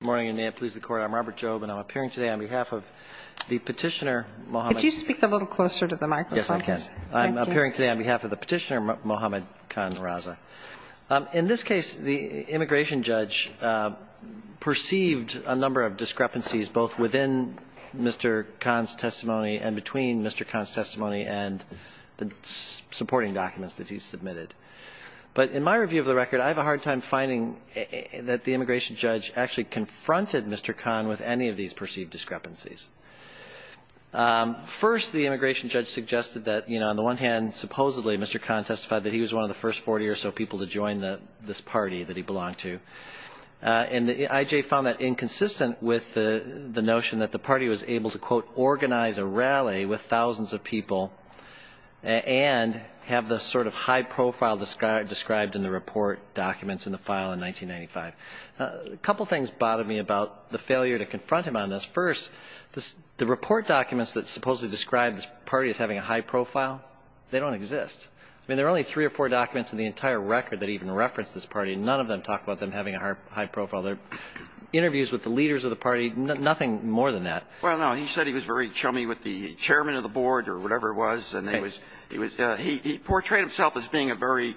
Good morning, and may it please the Court. I'm Robert Jobe, and I'm appearing today on behalf of the Petitioner Mohammed Khan Raza. In this case, the immigration judge perceived a number of discrepancies both within Mr. Khan's testimony and between Mr. Khan's testimony and the supporting documents that he submitted. But in my review of the record, I have a hard time finding that the immigration judge actually confronted Mr. Khan with any of these perceived discrepancies. First, the immigration judge suggested that, you know, on the one hand, supposedly Mr. Khan testified that he was one of the first 40 or so people to join this party that he belonged to. And the IJ found that inconsistent with the notion that the party was able to, quote, organize a rally with thousands of people and have the sort of high profile described in the report documents in the file in 1995. A couple things bothered me about the failure to confront him on this. First, the report documents that supposedly describe this party as having a high profile, they don't exist. I mean, there are only three or four documents in the entire record that even reference this party. None of them talk about them having a high profile. There are interviews with the leaders of the party, nothing more than that. Well, no, he said he was very chummy with the chairman of the board or whatever it was. And he portrayed himself as being a very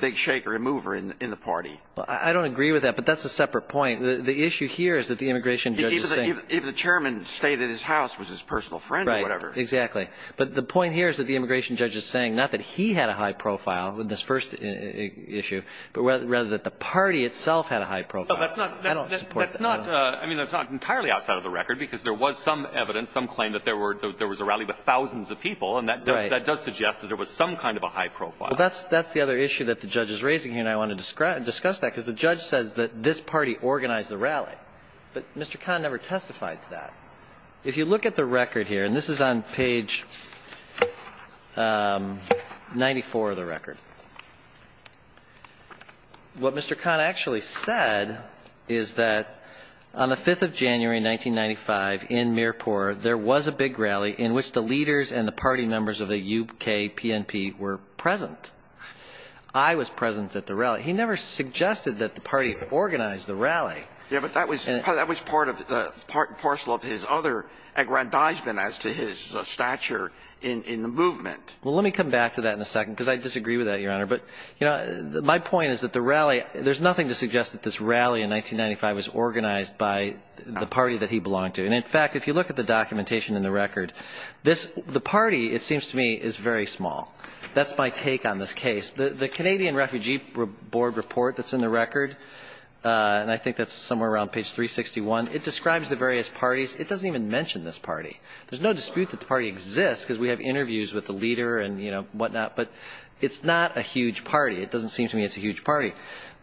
big shaker, a mover in the party. I don't agree with that, but that's a separate point. The issue here is that the immigration judge is saying – Even the chairman stayed at his house, was his personal friend or whatever. Exactly. But the point here is that the immigration judge is saying not that he had a high profile in this first issue, but rather that the party itself had a high profile. I don't support that. I mean, that's not entirely outside of the record, because there was some evidence, some claim that there was a rally with thousands of people. And that does suggest that there was some kind of a high profile. Well, that's the other issue that the judge is raising here, and I want to discuss that, because the judge says that this party organized the rally. But Mr. Kahn never testified to that. If you look at the record here – and this is on page 94 of the record – what Mr. Kahn actually said is that on the 5th of January, 1995, in Mirpur, there was a big rally in which the leaders and the party members of the UK PNP were present. I was present at the rally. He never suggested that the party organized the rally. Yeah, but that was part and parcel of his other aggrandizement as to his stature in the movement. Well, let me come back to that in a second, because I disagree with that, Your Honor. But, you know, my point is that the rally – there's nothing to suggest that this rally in 1995 was organized by the party that he belonged to. And, in fact, if you look at the documentation in the record, the party, it seems to me, is very small. That's my take on this case. The Canadian Refugee Board report that's in the record – and I think that's somewhere around page 361 – it describes the various parties. It doesn't even mention this party. There's no dispute that the party exists because we have interviews with the leader and, you know, whatnot. But it's not a huge party. It doesn't seem to me it's a huge party.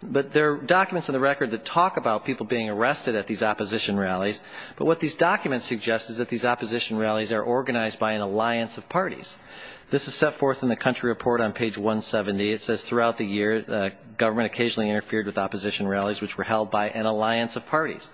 But there are documents in the record that talk about people being arrested at these opposition rallies. But what these documents suggest is that these opposition rallies are organized by an alliance of parties. This is set forth in the country report on page 170. It says, throughout the year, government occasionally interfered with opposition rallies, which were held by an alliance of parties.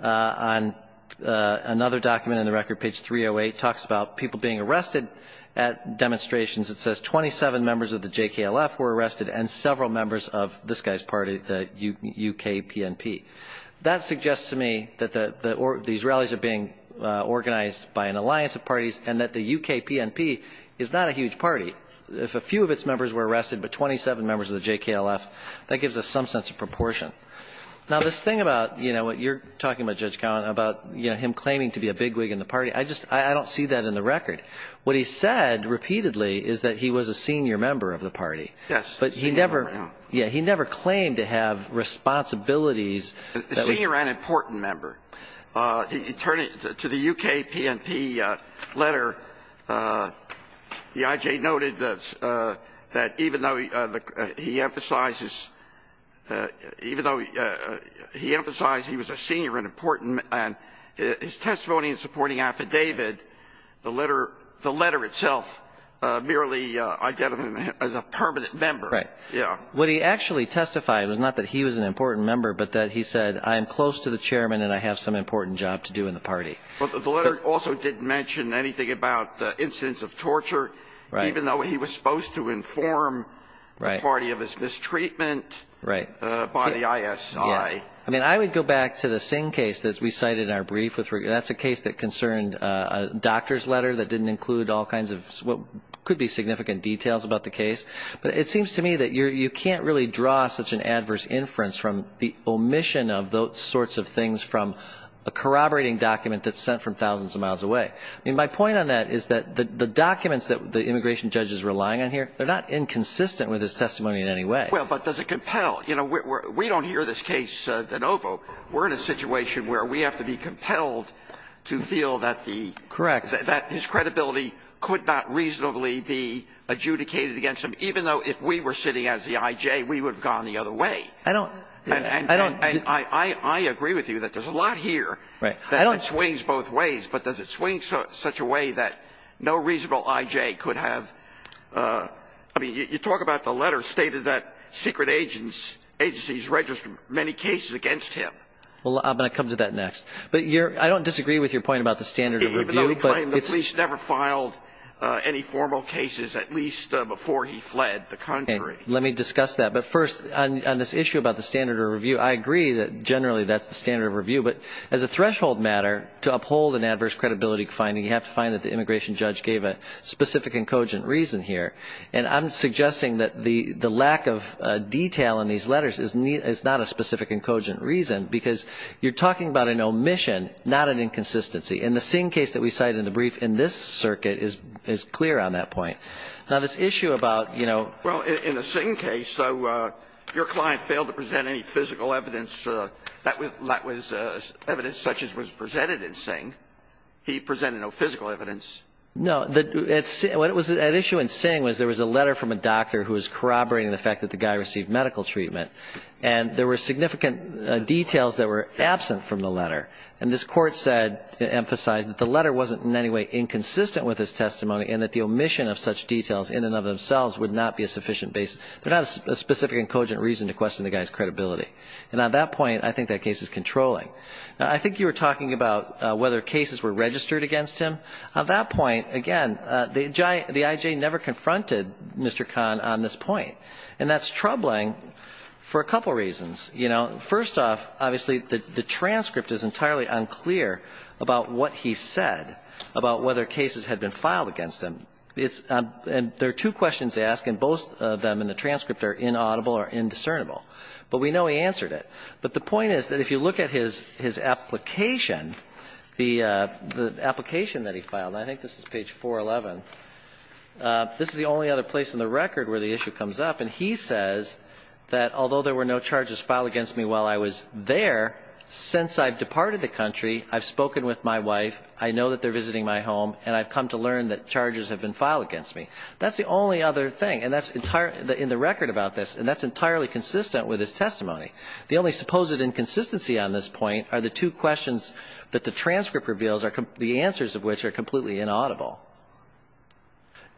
Another document in the record, page 308, talks about people being arrested at demonstrations. It says 27 members of the JKLF were arrested and several members of this guy's party, the UKPNP. That suggests to me that these rallies are being organized by an alliance of parties and that the UKPNP is not a huge party. If a few of its members were arrested but 27 members of the JKLF, that gives us some sense of proportion. Now, this thing about, you know, what you're talking about, Judge Cowen, about him claiming to be a bigwig in the party, I don't see that in the record. What he said repeatedly is that he was a senior member of the party. Yes. But he never – yeah, he never claimed to have responsibilities. A senior and important member. Turning to the UKPNP letter, the IJ noted that even though he emphasizes – even though he emphasized he was a senior and important, his testimony in supporting affidavit, the letter itself merely identified him as a permanent member. Right. Yeah. What he actually testified was not that he was an important member but that he said, I am close to the chairman and I have some important job to do in the party. But the letter also didn't mention anything about incidents of torture. Right. Even though he was supposed to inform the party of his mistreatment by the ISI. I mean, I would go back to the Singh case that we cited in our brief. That's a case that concerned a doctor's letter that didn't include all kinds of what could be significant details about the case. But it seems to me that you can't really draw such an adverse inference from the omission of those sorts of things from a corroborating document that's sent from thousands of miles away. I mean, my point on that is that the documents that the immigration judge is relying on here, they're not inconsistent with his testimony in any way. Well, but does it compel? You know, we don't hear this case de novo. We're in a situation where we have to be compelled to feel that the. Correct. That his credibility could not reasonably be adjudicated against him, even though if we were sitting as the IJ, we would have gone the other way. I don't. I don't. I agree with you that there's a lot here. Right. That swings both ways. But does it swing such a way that no reasonable IJ could have. I mean, you talk about the letter stated that secret agents agencies register many cases against him. Well, I'm going to come to that next. But I don't disagree with your point about the standard of review. Even though he claimed the police never filed any formal cases, at least before he fled the country. Let me discuss that. But first, on this issue about the standard of review, I agree that generally that's the standard of review. But as a threshold matter, to uphold an adverse credibility finding, you have to find that the immigration judge gave a specific and cogent reason here. And I'm suggesting that the lack of detail in these letters is not a specific and cogent reason, because you're talking about an omission, not an inconsistency. And the Singh case that we cite in the brief in this circuit is clear on that point. Now, this issue about, you know. Well, in the Singh case, your client failed to present any physical evidence that was evidence such as was presented in Singh. He presented no physical evidence. No. What was at issue in Singh was there was a letter from a doctor who was corroborating the fact that the guy received medical treatment. And there were significant details that were absent from the letter. And this court said, emphasized that the letter wasn't in any way inconsistent with his testimony and that the omission of such details in and of themselves would not be a sufficient basis. But not a specific and cogent reason to question the guy's credibility. And on that point, I think that case is controlling. Now, I think you were talking about whether cases were registered against him. On that point, again, the I.J. never confronted Mr. Khan on this point. And that's troubling for a couple reasons. You know, first off, obviously, the transcript is entirely unclear about what he said, about whether cases had been filed against him. And there are two questions to ask, and both of them in the transcript are inaudible or indiscernible. But we know he answered it. But the point is that if you look at his application, the application that he filed, and I think this is page 411, this is the only other place in the record where the issue comes up. And he says that although there were no charges filed against me while I was there, since I've departed the country, I've spoken with my wife, I know that they're visiting my home, and I've come to learn that charges have been filed against me. That's the only other thing. And that's in the record about this. And that's entirely consistent with his testimony. The only supposed inconsistency on this point are the two questions that the transcript reveals, the answers of which are completely inaudible.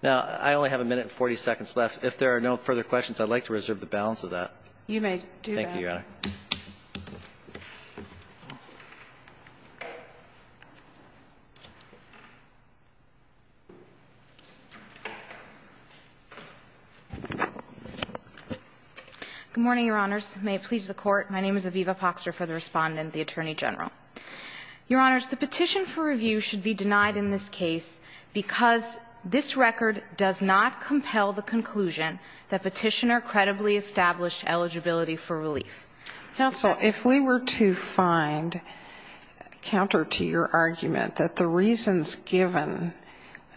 Now, I only have a minute and 40 seconds left. If there are no further questions, I'd like to reserve the balance of that. Thank you, Your Honor. Good morning, Your Honors. May it please the Court. My name is Aviva Poxter for the Respondent, the Attorney General. Your Honors, the petition for review should be denied in this case because this record does not compel the conclusion that Petitioner credibly established eligibility for relief. Counsel, if we were to find counter to your argument that the reasons given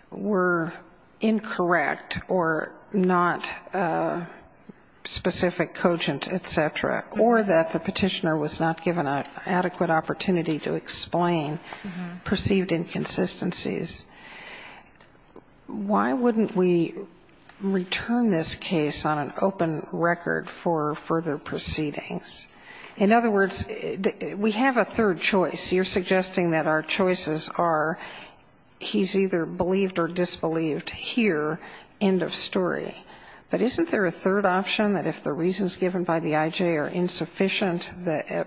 were incorrect or not specific, cogent, et cetera, or that the Petitioner was not given an adequate opportunity to explain perceived inconsistencies, why wouldn't we return this case on an open record for further proceedings? In other words, we have a third choice. You're suggesting that our choices are he's either believed or disbelieved here, end of story. But isn't there a third option that if the reasons given by the I.J. are insufficient,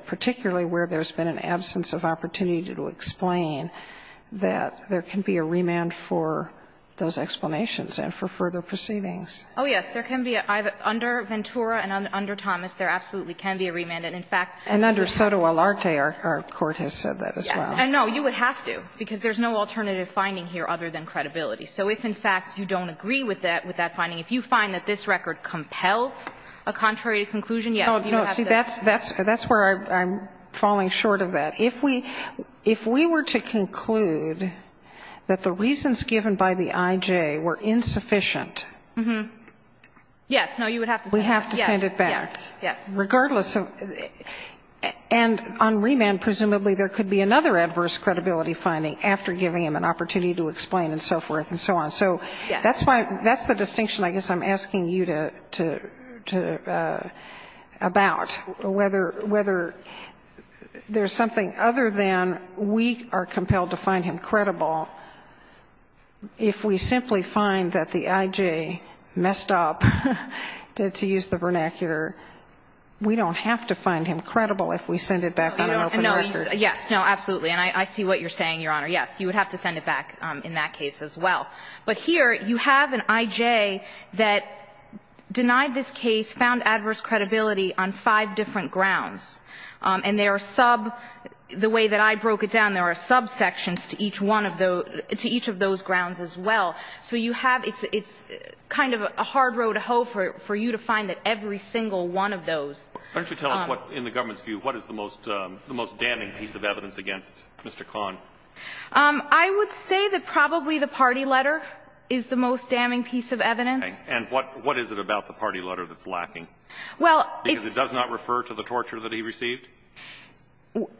particularly where there's been an absence of opportunity to explain, that there can be a remand for those explanations and for further proceedings? Oh, yes, there can be. Under Ventura and under Thomas, there absolutely can be a remand. And, in fact you have to. And under Sotomayor, our Court has said that as well. Yes. And, no, you would have to, because there's no alternative finding here other than credibility. So if, in fact, you don't agree with that, with that finding, if you find that this record compels a contrary conclusion, yes, you have to. No, see, that's where I'm falling short of that. If we were to conclude that the reasons given by the I.J. were insufficient. Yes. No, you would have to send it back. We have to send it back. Yes. Regardless of and on remand presumably there could be another adverse credibility finding after giving him an opportunity to explain and so forth and so on. Yes. So that's the distinction I guess I'm asking you to about, whether there's something other than we are compelled to find him credible if we simply find that the I.J. messed up, to use the vernacular, we don't have to find him credible if we send it back on an open record. Yes. No, absolutely. And I see what you're saying, Your Honor. Yes. You would have to send it back in that case as well. But here you have an I.J. that denied this case, found adverse credibility on five different grounds. And there are sub, the way that I broke it down, there are subsections to each one of those, to each of those grounds as well. So you have, it's kind of a hard road to hoe for you to find that every single one of those. Why don't you tell us what, in the government's view, what is the most damning piece of evidence against Mr. Kahn? I would say that probably the party letter is the most damning piece of evidence. And what is it about the party letter that's lacking? Well, it's... Because it does not refer to the torture that he received?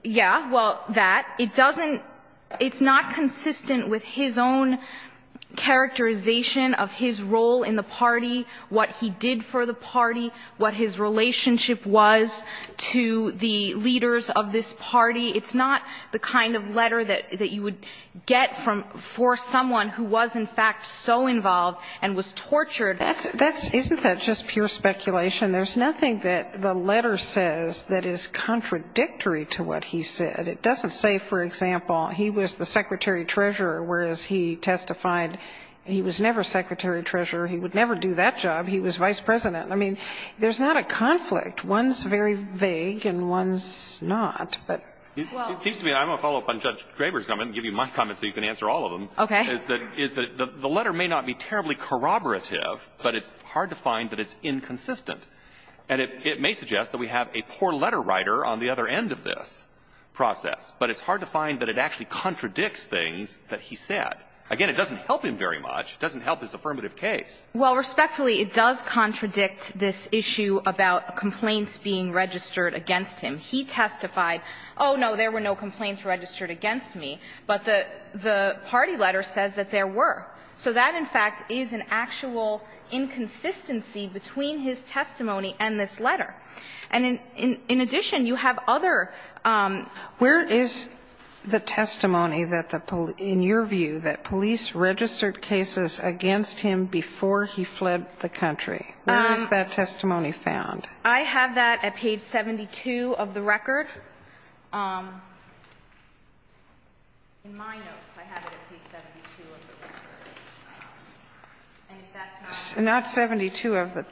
Yeah. Well, that. It doesn't, it's not consistent with his own characterization of his role in the party, what he did for the party, what his relationship was to the leaders of this party. It's not the kind of letter that you would get from, for someone who was, in fact, so involved and was tortured. That's, isn't that just pure speculation? There's nothing that the letter says that is contradictory to what he said. It doesn't say, for example, he was the secretary-treasurer, whereas he testified he was never secretary-treasurer, he would never do that job, he was vice-president. I mean, there's not a conflict. One's very vague and one's not. It seems to me, I'm going to follow up on Judge Graber's comment and give you my comment so you can answer all of them. Okay. Is that the letter may not be terribly corroborative, but it's hard to find that it's inconsistent. And it may suggest that we have a poor letter writer on the other end of this process, but it's hard to find that it actually contradicts things that he said. Again, it doesn't help him very much. It doesn't help his affirmative case. Well, respectfully, it does contradict this issue about complaints being registered against him. He testified, oh, no, there were no complaints registered against me, but the party letter says that there were. So that, in fact, is an actual inconsistency between his testimony and this letter. And in addition, you have other. Where is the testimony that the police – in your view, that police registered cases against him before he fled the country? Where is that testimony found? I have that at page 72 of the record. In my notes, I have it at page 72 of the record. And if that's not what you're asking. Not 72 of the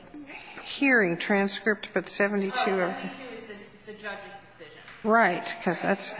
hearing transcript, but 72 of the – Oh, 72 is the judge's decision. Right, because that's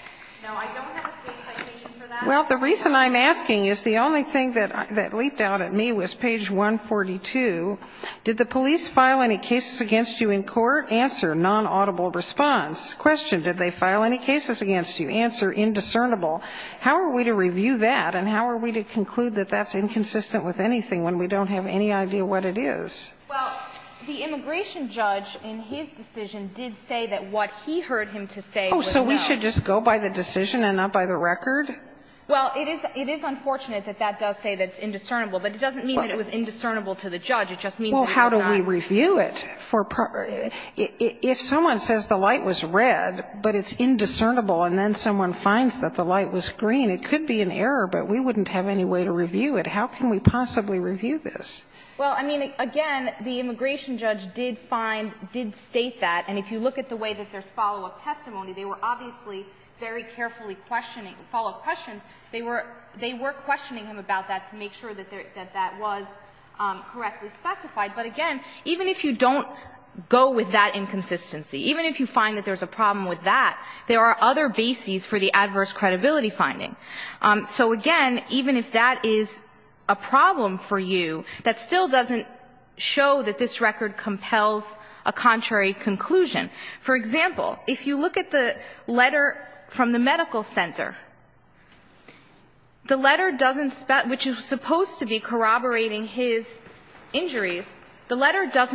– No, I don't have a state citation for that. Well, the reason I'm asking is the only thing that leaped out at me was page 142. Did the police file any cases against you in court? Answer, non-audible response. Question, did they file any cases against you? Answer, indiscernible. How are we to review that, and how are we to conclude that that's inconsistent with anything when we don't have any idea what it is? Well, the immigration judge, in his decision, did say that what he heard him to say was no. Oh, so we should just go by the decision and not by the record? Well, it is – it is unfortunate that that does say that it's indiscernible, but it doesn't mean that it was indiscernible to the judge. It just means that it's not. Well, how do we review it? If someone says the light was red, but it's indiscernible, and then someone finds that the light was green, it could be an error, but we wouldn't have any way to review it. How can we possibly review this? Well, I mean, again, the immigration judge did find, did state that. And if you look at the way that there's follow-up testimony, they were obviously very carefully questioning, follow-up questions. They were questioning him about that to make sure that that was correctly specified. But again, even if you don't go with that inconsistency, even if you find that there's a problem with that, there are other bases for the adverse credibility finding. So again, even if that is a problem for you, that still doesn't show that this record compels a contrary conclusion. For example, if you look at the letter from the medical center, the letter doesn't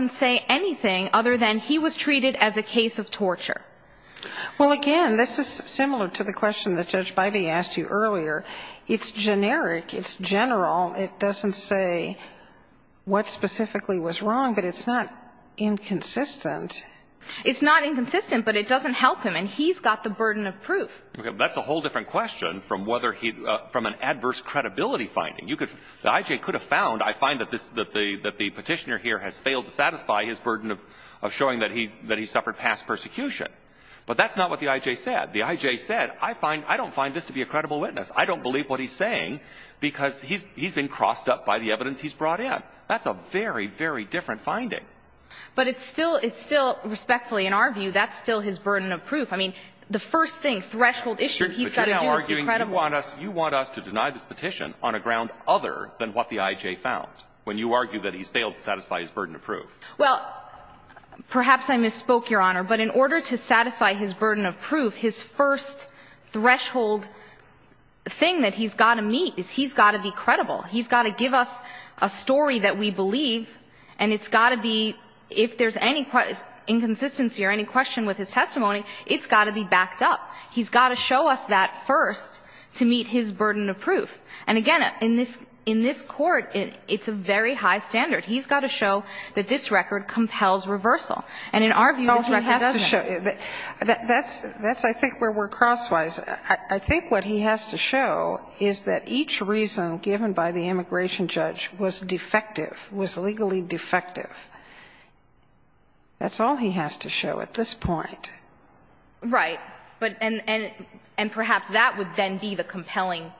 say anything other than he was treated as a case of torture. Well, again, this is similar to the question that Judge Bybee asked you earlier. It's generic. It's general. It doesn't say what specifically was wrong, but it's not inconsistent. It's not inconsistent, but it doesn't help him, and he's got the burden of proof. That's a whole different question from whether he, from an adverse credibility finding. The I.J. could have found, I find that the Petitioner here has failed to satisfy his burden of showing that he suffered past persecution. But that's not what the I.J. said. The I.J. said, I don't find this to be a credible witness. I don't believe what he's saying because he's been crossed up by the evidence he's brought in. That's a very, very different finding. But it's still, respectfully, in our view, that's still his burden of proof. I mean, the first thing, threshold issue, he's got to do is be credible. But you're arguing you want us to deny this petition on a ground other than what the I.J. found, when you argue that he's failed to satisfy his burden of proof. Well, perhaps I misspoke, Your Honor, but in order to satisfy his burden of proof, his first threshold thing that he's got to meet is he's got to be credible. He's got to give us a story that we believe, and it's got to be, if there's any inconsistency or any question with his testimony, it's got to be backed up. He's got to show us that first to meet his burden of proof. And again, in this Court, it's a very high standard. He's got to show that this record compels reversal. And in our view, this record doesn't. That's, I think, where we're crosswise. I think what he has to show is that each reason given by the immigration judge was defective, was legally defective. That's all he has to show at this point. Right. And perhaps that would then be the compelling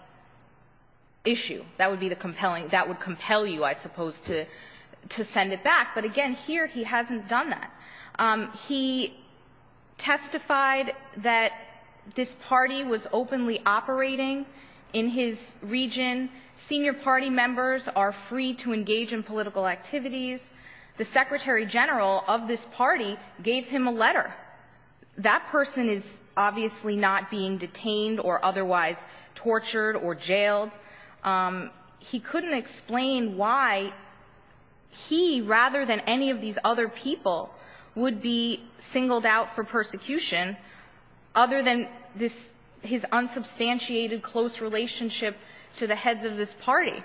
issue. That would be the compelling – that would compel you, I suppose, to send it back. But again, here he hasn't done that. He testified that this party was openly operating in his region. Senior party members are free to engage in political activities. The Secretary General of this party gave him a letter. That person is obviously not being detained or otherwise tortured or jailed. He couldn't explain why he, rather than any of these other people, would be singled out for persecution other than this – his unsubstantiated close relationship to the heads of this party,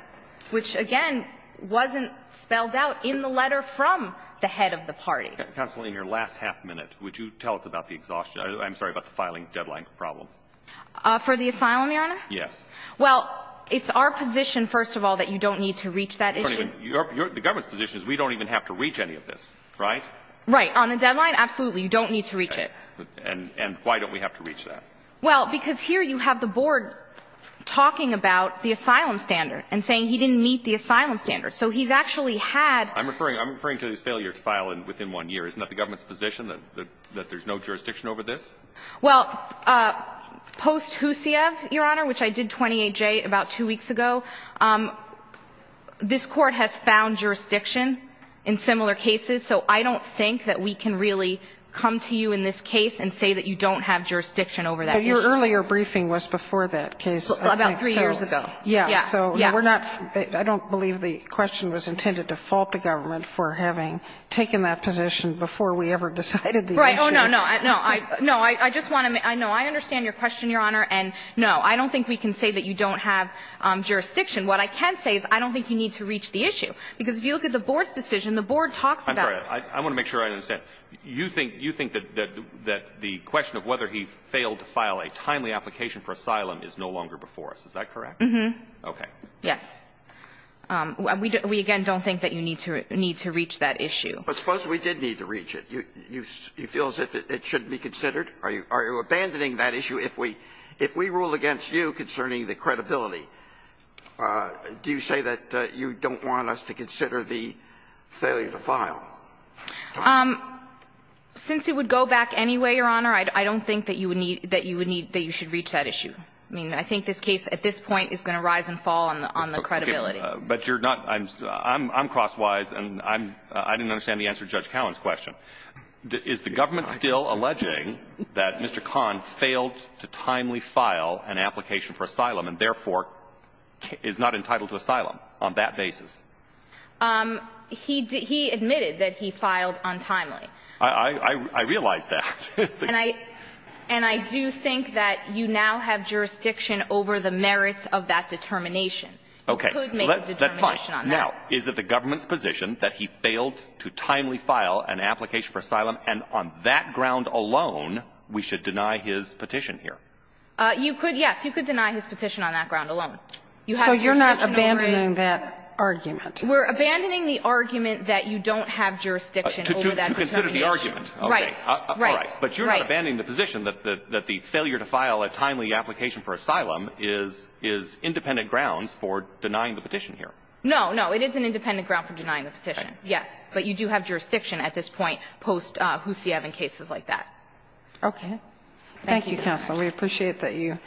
which, again, wasn't spelled out in the letter from the head of the party. I'm sorry. Counsel, in your last half minute, would you tell us about the exhaustion – I'm sorry, about the filing deadline problem? For the asylum, Your Honor? Yes. Well, it's our position, first of all, that you don't need to reach that issue. The government's position is we don't even have to reach any of this, right? Right. On the deadline, absolutely. You don't need to reach it. And why don't we have to reach that? Well, because here you have the board talking about the asylum standard and saying he didn't meet the asylum standard. So he's actually had – I'm referring to his failure to file within one year. Isn't that the government's position, that there's no jurisdiction over this? Well, post-Husiev, Your Honor, which I did 28J about two weeks ago, this Court has found jurisdiction in similar cases. So I don't think that we can really come to you in this case and say that you don't have jurisdiction over that issue. But your earlier briefing was before that case. About three years ago. Yeah. Yeah. So we're not – I don't believe the question was intended to fault the government for having taken that position before we ever decided the issue. Right. Oh, no, no. No, I just want to – no, I understand your question, Your Honor. And, no, I don't think we can say that you don't have jurisdiction. What I can say is I don't think you need to reach the issue. Because if you look at the board's decision, the board talks about it. I'm sorry. I want to make sure I understand. You think that the question of whether he failed to file a timely application for asylum is no longer before us. Is that correct? Mm-hmm. Okay. Yes. We, again, don't think that you need to reach that issue. But suppose we did need to reach it. You feel as if it shouldn't be considered? Are you abandoning that issue if we rule against you concerning the credibility? Do you say that you don't want us to consider the failure to file? Since it would go back anyway, Your Honor, I don't think that you would need – that you would need – that you should reach that issue. I mean, I think this case at this point is going to rise and fall on the credibility. But you're not – I'm crosswise, and I'm – I didn't understand the answer to Judge Cowan's question. Is the government still alleging that Mr. Kahn failed to timely file an application for asylum and, therefore, is not entitled to asylum on that basis? He admitted that he filed untimely. I realize that. And I do think that you now have jurisdiction over the merits of that determination. You could make a determination on that. Okay. That's fine. Now, is it the government's position that he failed to timely file an application for asylum, and on that ground alone we should deny his petition here? You could, yes. You could deny his petition on that ground alone. You have jurisdiction over it. So you're not abandoning that argument? We're abandoning the argument that you don't have jurisdiction over that determination. To consider the argument. Right. Right. But you're not abandoning the position that the failure to file a timely application for asylum is independent grounds for denying the petition here. No, no. It is an independent ground for denying the petition, yes. But you do have jurisdiction at this point post-Husseyev and cases like that. Okay. Thank you, counsel. We appreciate that you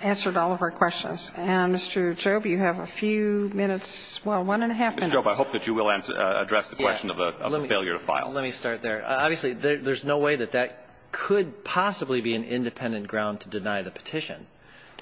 answered all of our questions. And, Mr. Job, you have a few minutes – well, one and a half minutes. Ms. Job, I hope that you will address the question of the failure to file. Let me start there. Obviously, there's no way that that could possibly be an independent ground to deny the petition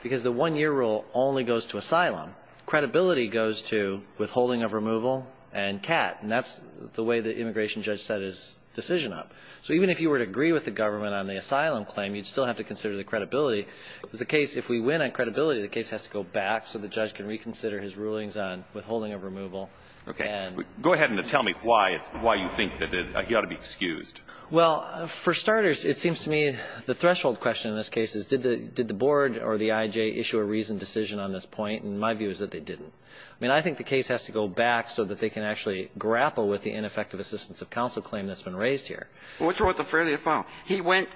because the one-year rule only goes to asylum. Credibility goes to withholding of removal and CAT, and that's the way the immigration judge set his decision up. So even if you were to agree with the government on the asylum claim, you'd still have to consider the credibility. If we win on credibility, the case has to go back so the judge can reconsider his rulings on withholding of removal. Okay. Go ahead and tell me why you think that he ought to be excused. Well, for starters, it seems to me the threshold question in this case is, did the board or the I.J. issue a reasoned decision on this point? And my view is that they didn't. I mean, I think the case has to go back so that they can actually grapple with the ineffective assistance of counsel claim that's been raised here. What's wrong with the failure to file? He went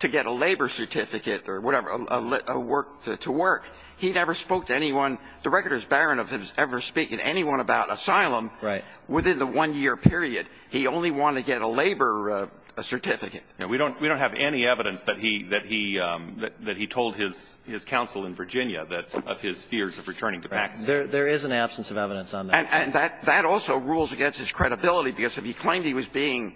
to get a labor certificate or whatever, a work – to work. He never spoke to anyone. The record is barren of him ever speaking to anyone about asylum. Right. Within the one-year period. He only wanted to get a labor certificate. We don't have any evidence that he told his counsel in Virginia of his fears of returning to Pakistan. There is an absence of evidence on that. And that also rules against his credibility, because if he claimed he was being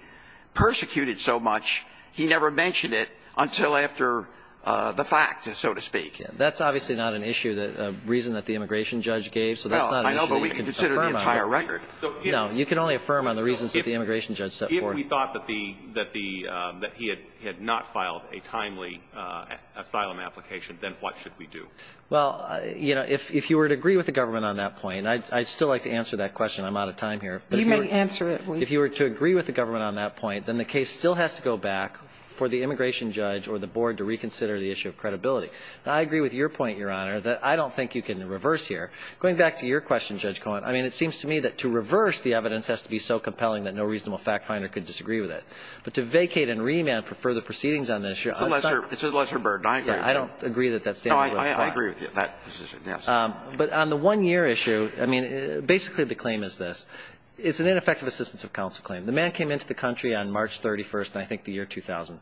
persecuted so much, he never mentioned it until after the fact, so to speak. That's obviously not an issue that – a reason that the immigration judge gave, so that's not an issue you can affirm on. Well, I know, but we can consider the entire record. No. You can only affirm on the reasons that the immigration judge set forth. If we thought that the – that he had not filed a timely asylum application, then what should we do? Well, you know, if you were to agree with the government on that point, and I'd still like to answer that question. I'm out of time here. You may answer it. If you were to agree with the government on that point, then the case still has to go back for the immigration judge or the board to reconsider the issue of credibility. Now, I agree with your point, Your Honor, that I don't think you can reverse here. Going back to your question, Judge Cohen, I mean, it seems to me that to reverse the evidence has to be so compelling that no reasonable fact finder could disagree with it. But to vacate and remand for further proceedings on this issue – It's a lesser – it's a lesser burden. I agree with you. I don't agree that that standard will apply. No, I agree with you. That decision, yes. But on the one-year issue, I mean, basically the claim is this. It's an ineffective assistance of counsel claim. The man came into the country on March 31st, I think the year 2000.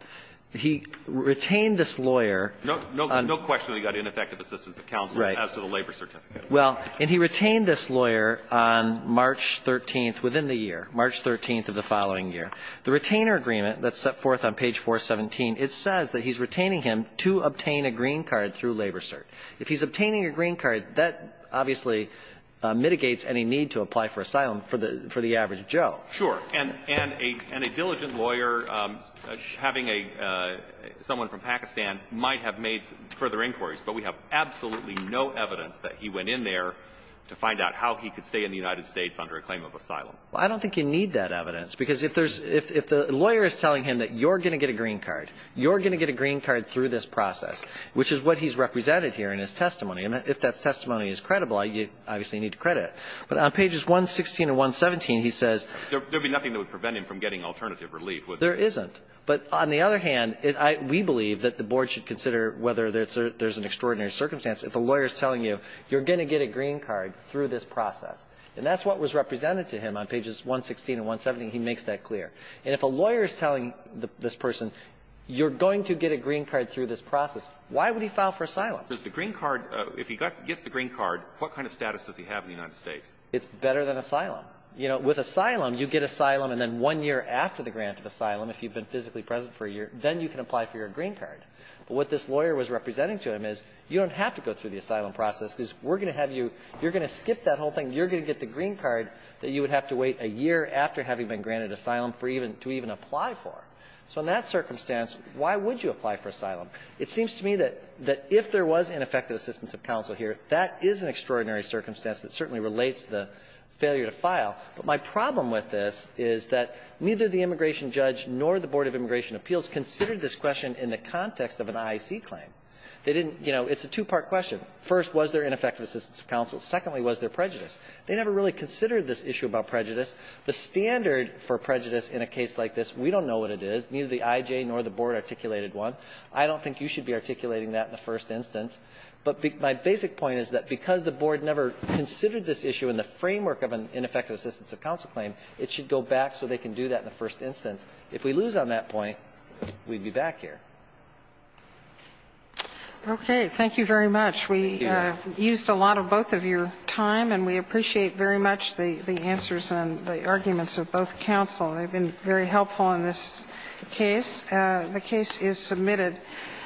He retained this lawyer – No question that he got ineffective assistance of counsel as to the labor certificate. Well, and he retained this lawyer on March 13th within the year, March 13th of the following year. The retainer agreement that's set forth on page 417, it says that he's retaining him to obtain a green card through Labor Cert. If he's obtaining a green card, that obviously mitigates any need to apply for asylum for the average Joe. Sure. And a – and a diligent lawyer having a – someone from Pakistan might have made further inquiries, but we have absolutely no evidence that he went in there to find out how he could stay in the United States under a claim of asylum. Well, I don't think you need that evidence, because if there's – if the lawyer is telling him that you're going to get a green card, you're going to get a green card through this process, which is what he's represented here in his testimony. And if that testimony is credible, you obviously need to credit it. But on pages 116 and 117, he says – There would be nothing that would prevent him from getting alternative relief, would there? There isn't. But on the other hand, we believe that the Board should consider whether there's an extraordinary circumstance if a lawyer is telling you you're going to get a green card through this process. And that's what was represented to him on pages 116 and 117, and he makes that clear. And if a lawyer is telling this person you're going to get a green card through this process, why would he file for asylum? If he gets the green card, what kind of status does he have in the United States? It's better than asylum. You know, with asylum, you get asylum, and then one year after the grant of asylum, if you've been physically present for a year, then you can apply for your green card. But what this lawyer was representing to him is you don't have to go through the asylum process, because we're going to have you – you're going to skip that whole thing. You're going to get the green card that you would have to wait a year after having been granted asylum for even – to even apply for. So in that circumstance, why would you apply for asylum? It seems to me that if there was ineffective assistance of counsel here, that is an extraordinary circumstance that certainly relates to the failure to file. But my problem with this is that neither the immigration judge nor the Board of Immigration Appeals considered this question in the context of an IEC claim. They didn't – you know, it's a two-part question. First, was there ineffective assistance of counsel? Secondly, was there prejudice? They never really considered this issue about prejudice. The standard for prejudice in a case like this, we don't know what it is. Neither the IJ nor the Board articulated one. I don't think you should be articulating that in the first instance. But my basic point is that because the Board never considered this issue in the framework of an ineffective assistance of counsel claim, it should go back so they can do that in the first instance. If we lose on that point, we'd be back here. Okay. Thank you very much. Thank you. We used a lot of both of your time, and we appreciate very much the answers and the arguments of both counsel. They've been very helpful in this case. The case is submitted.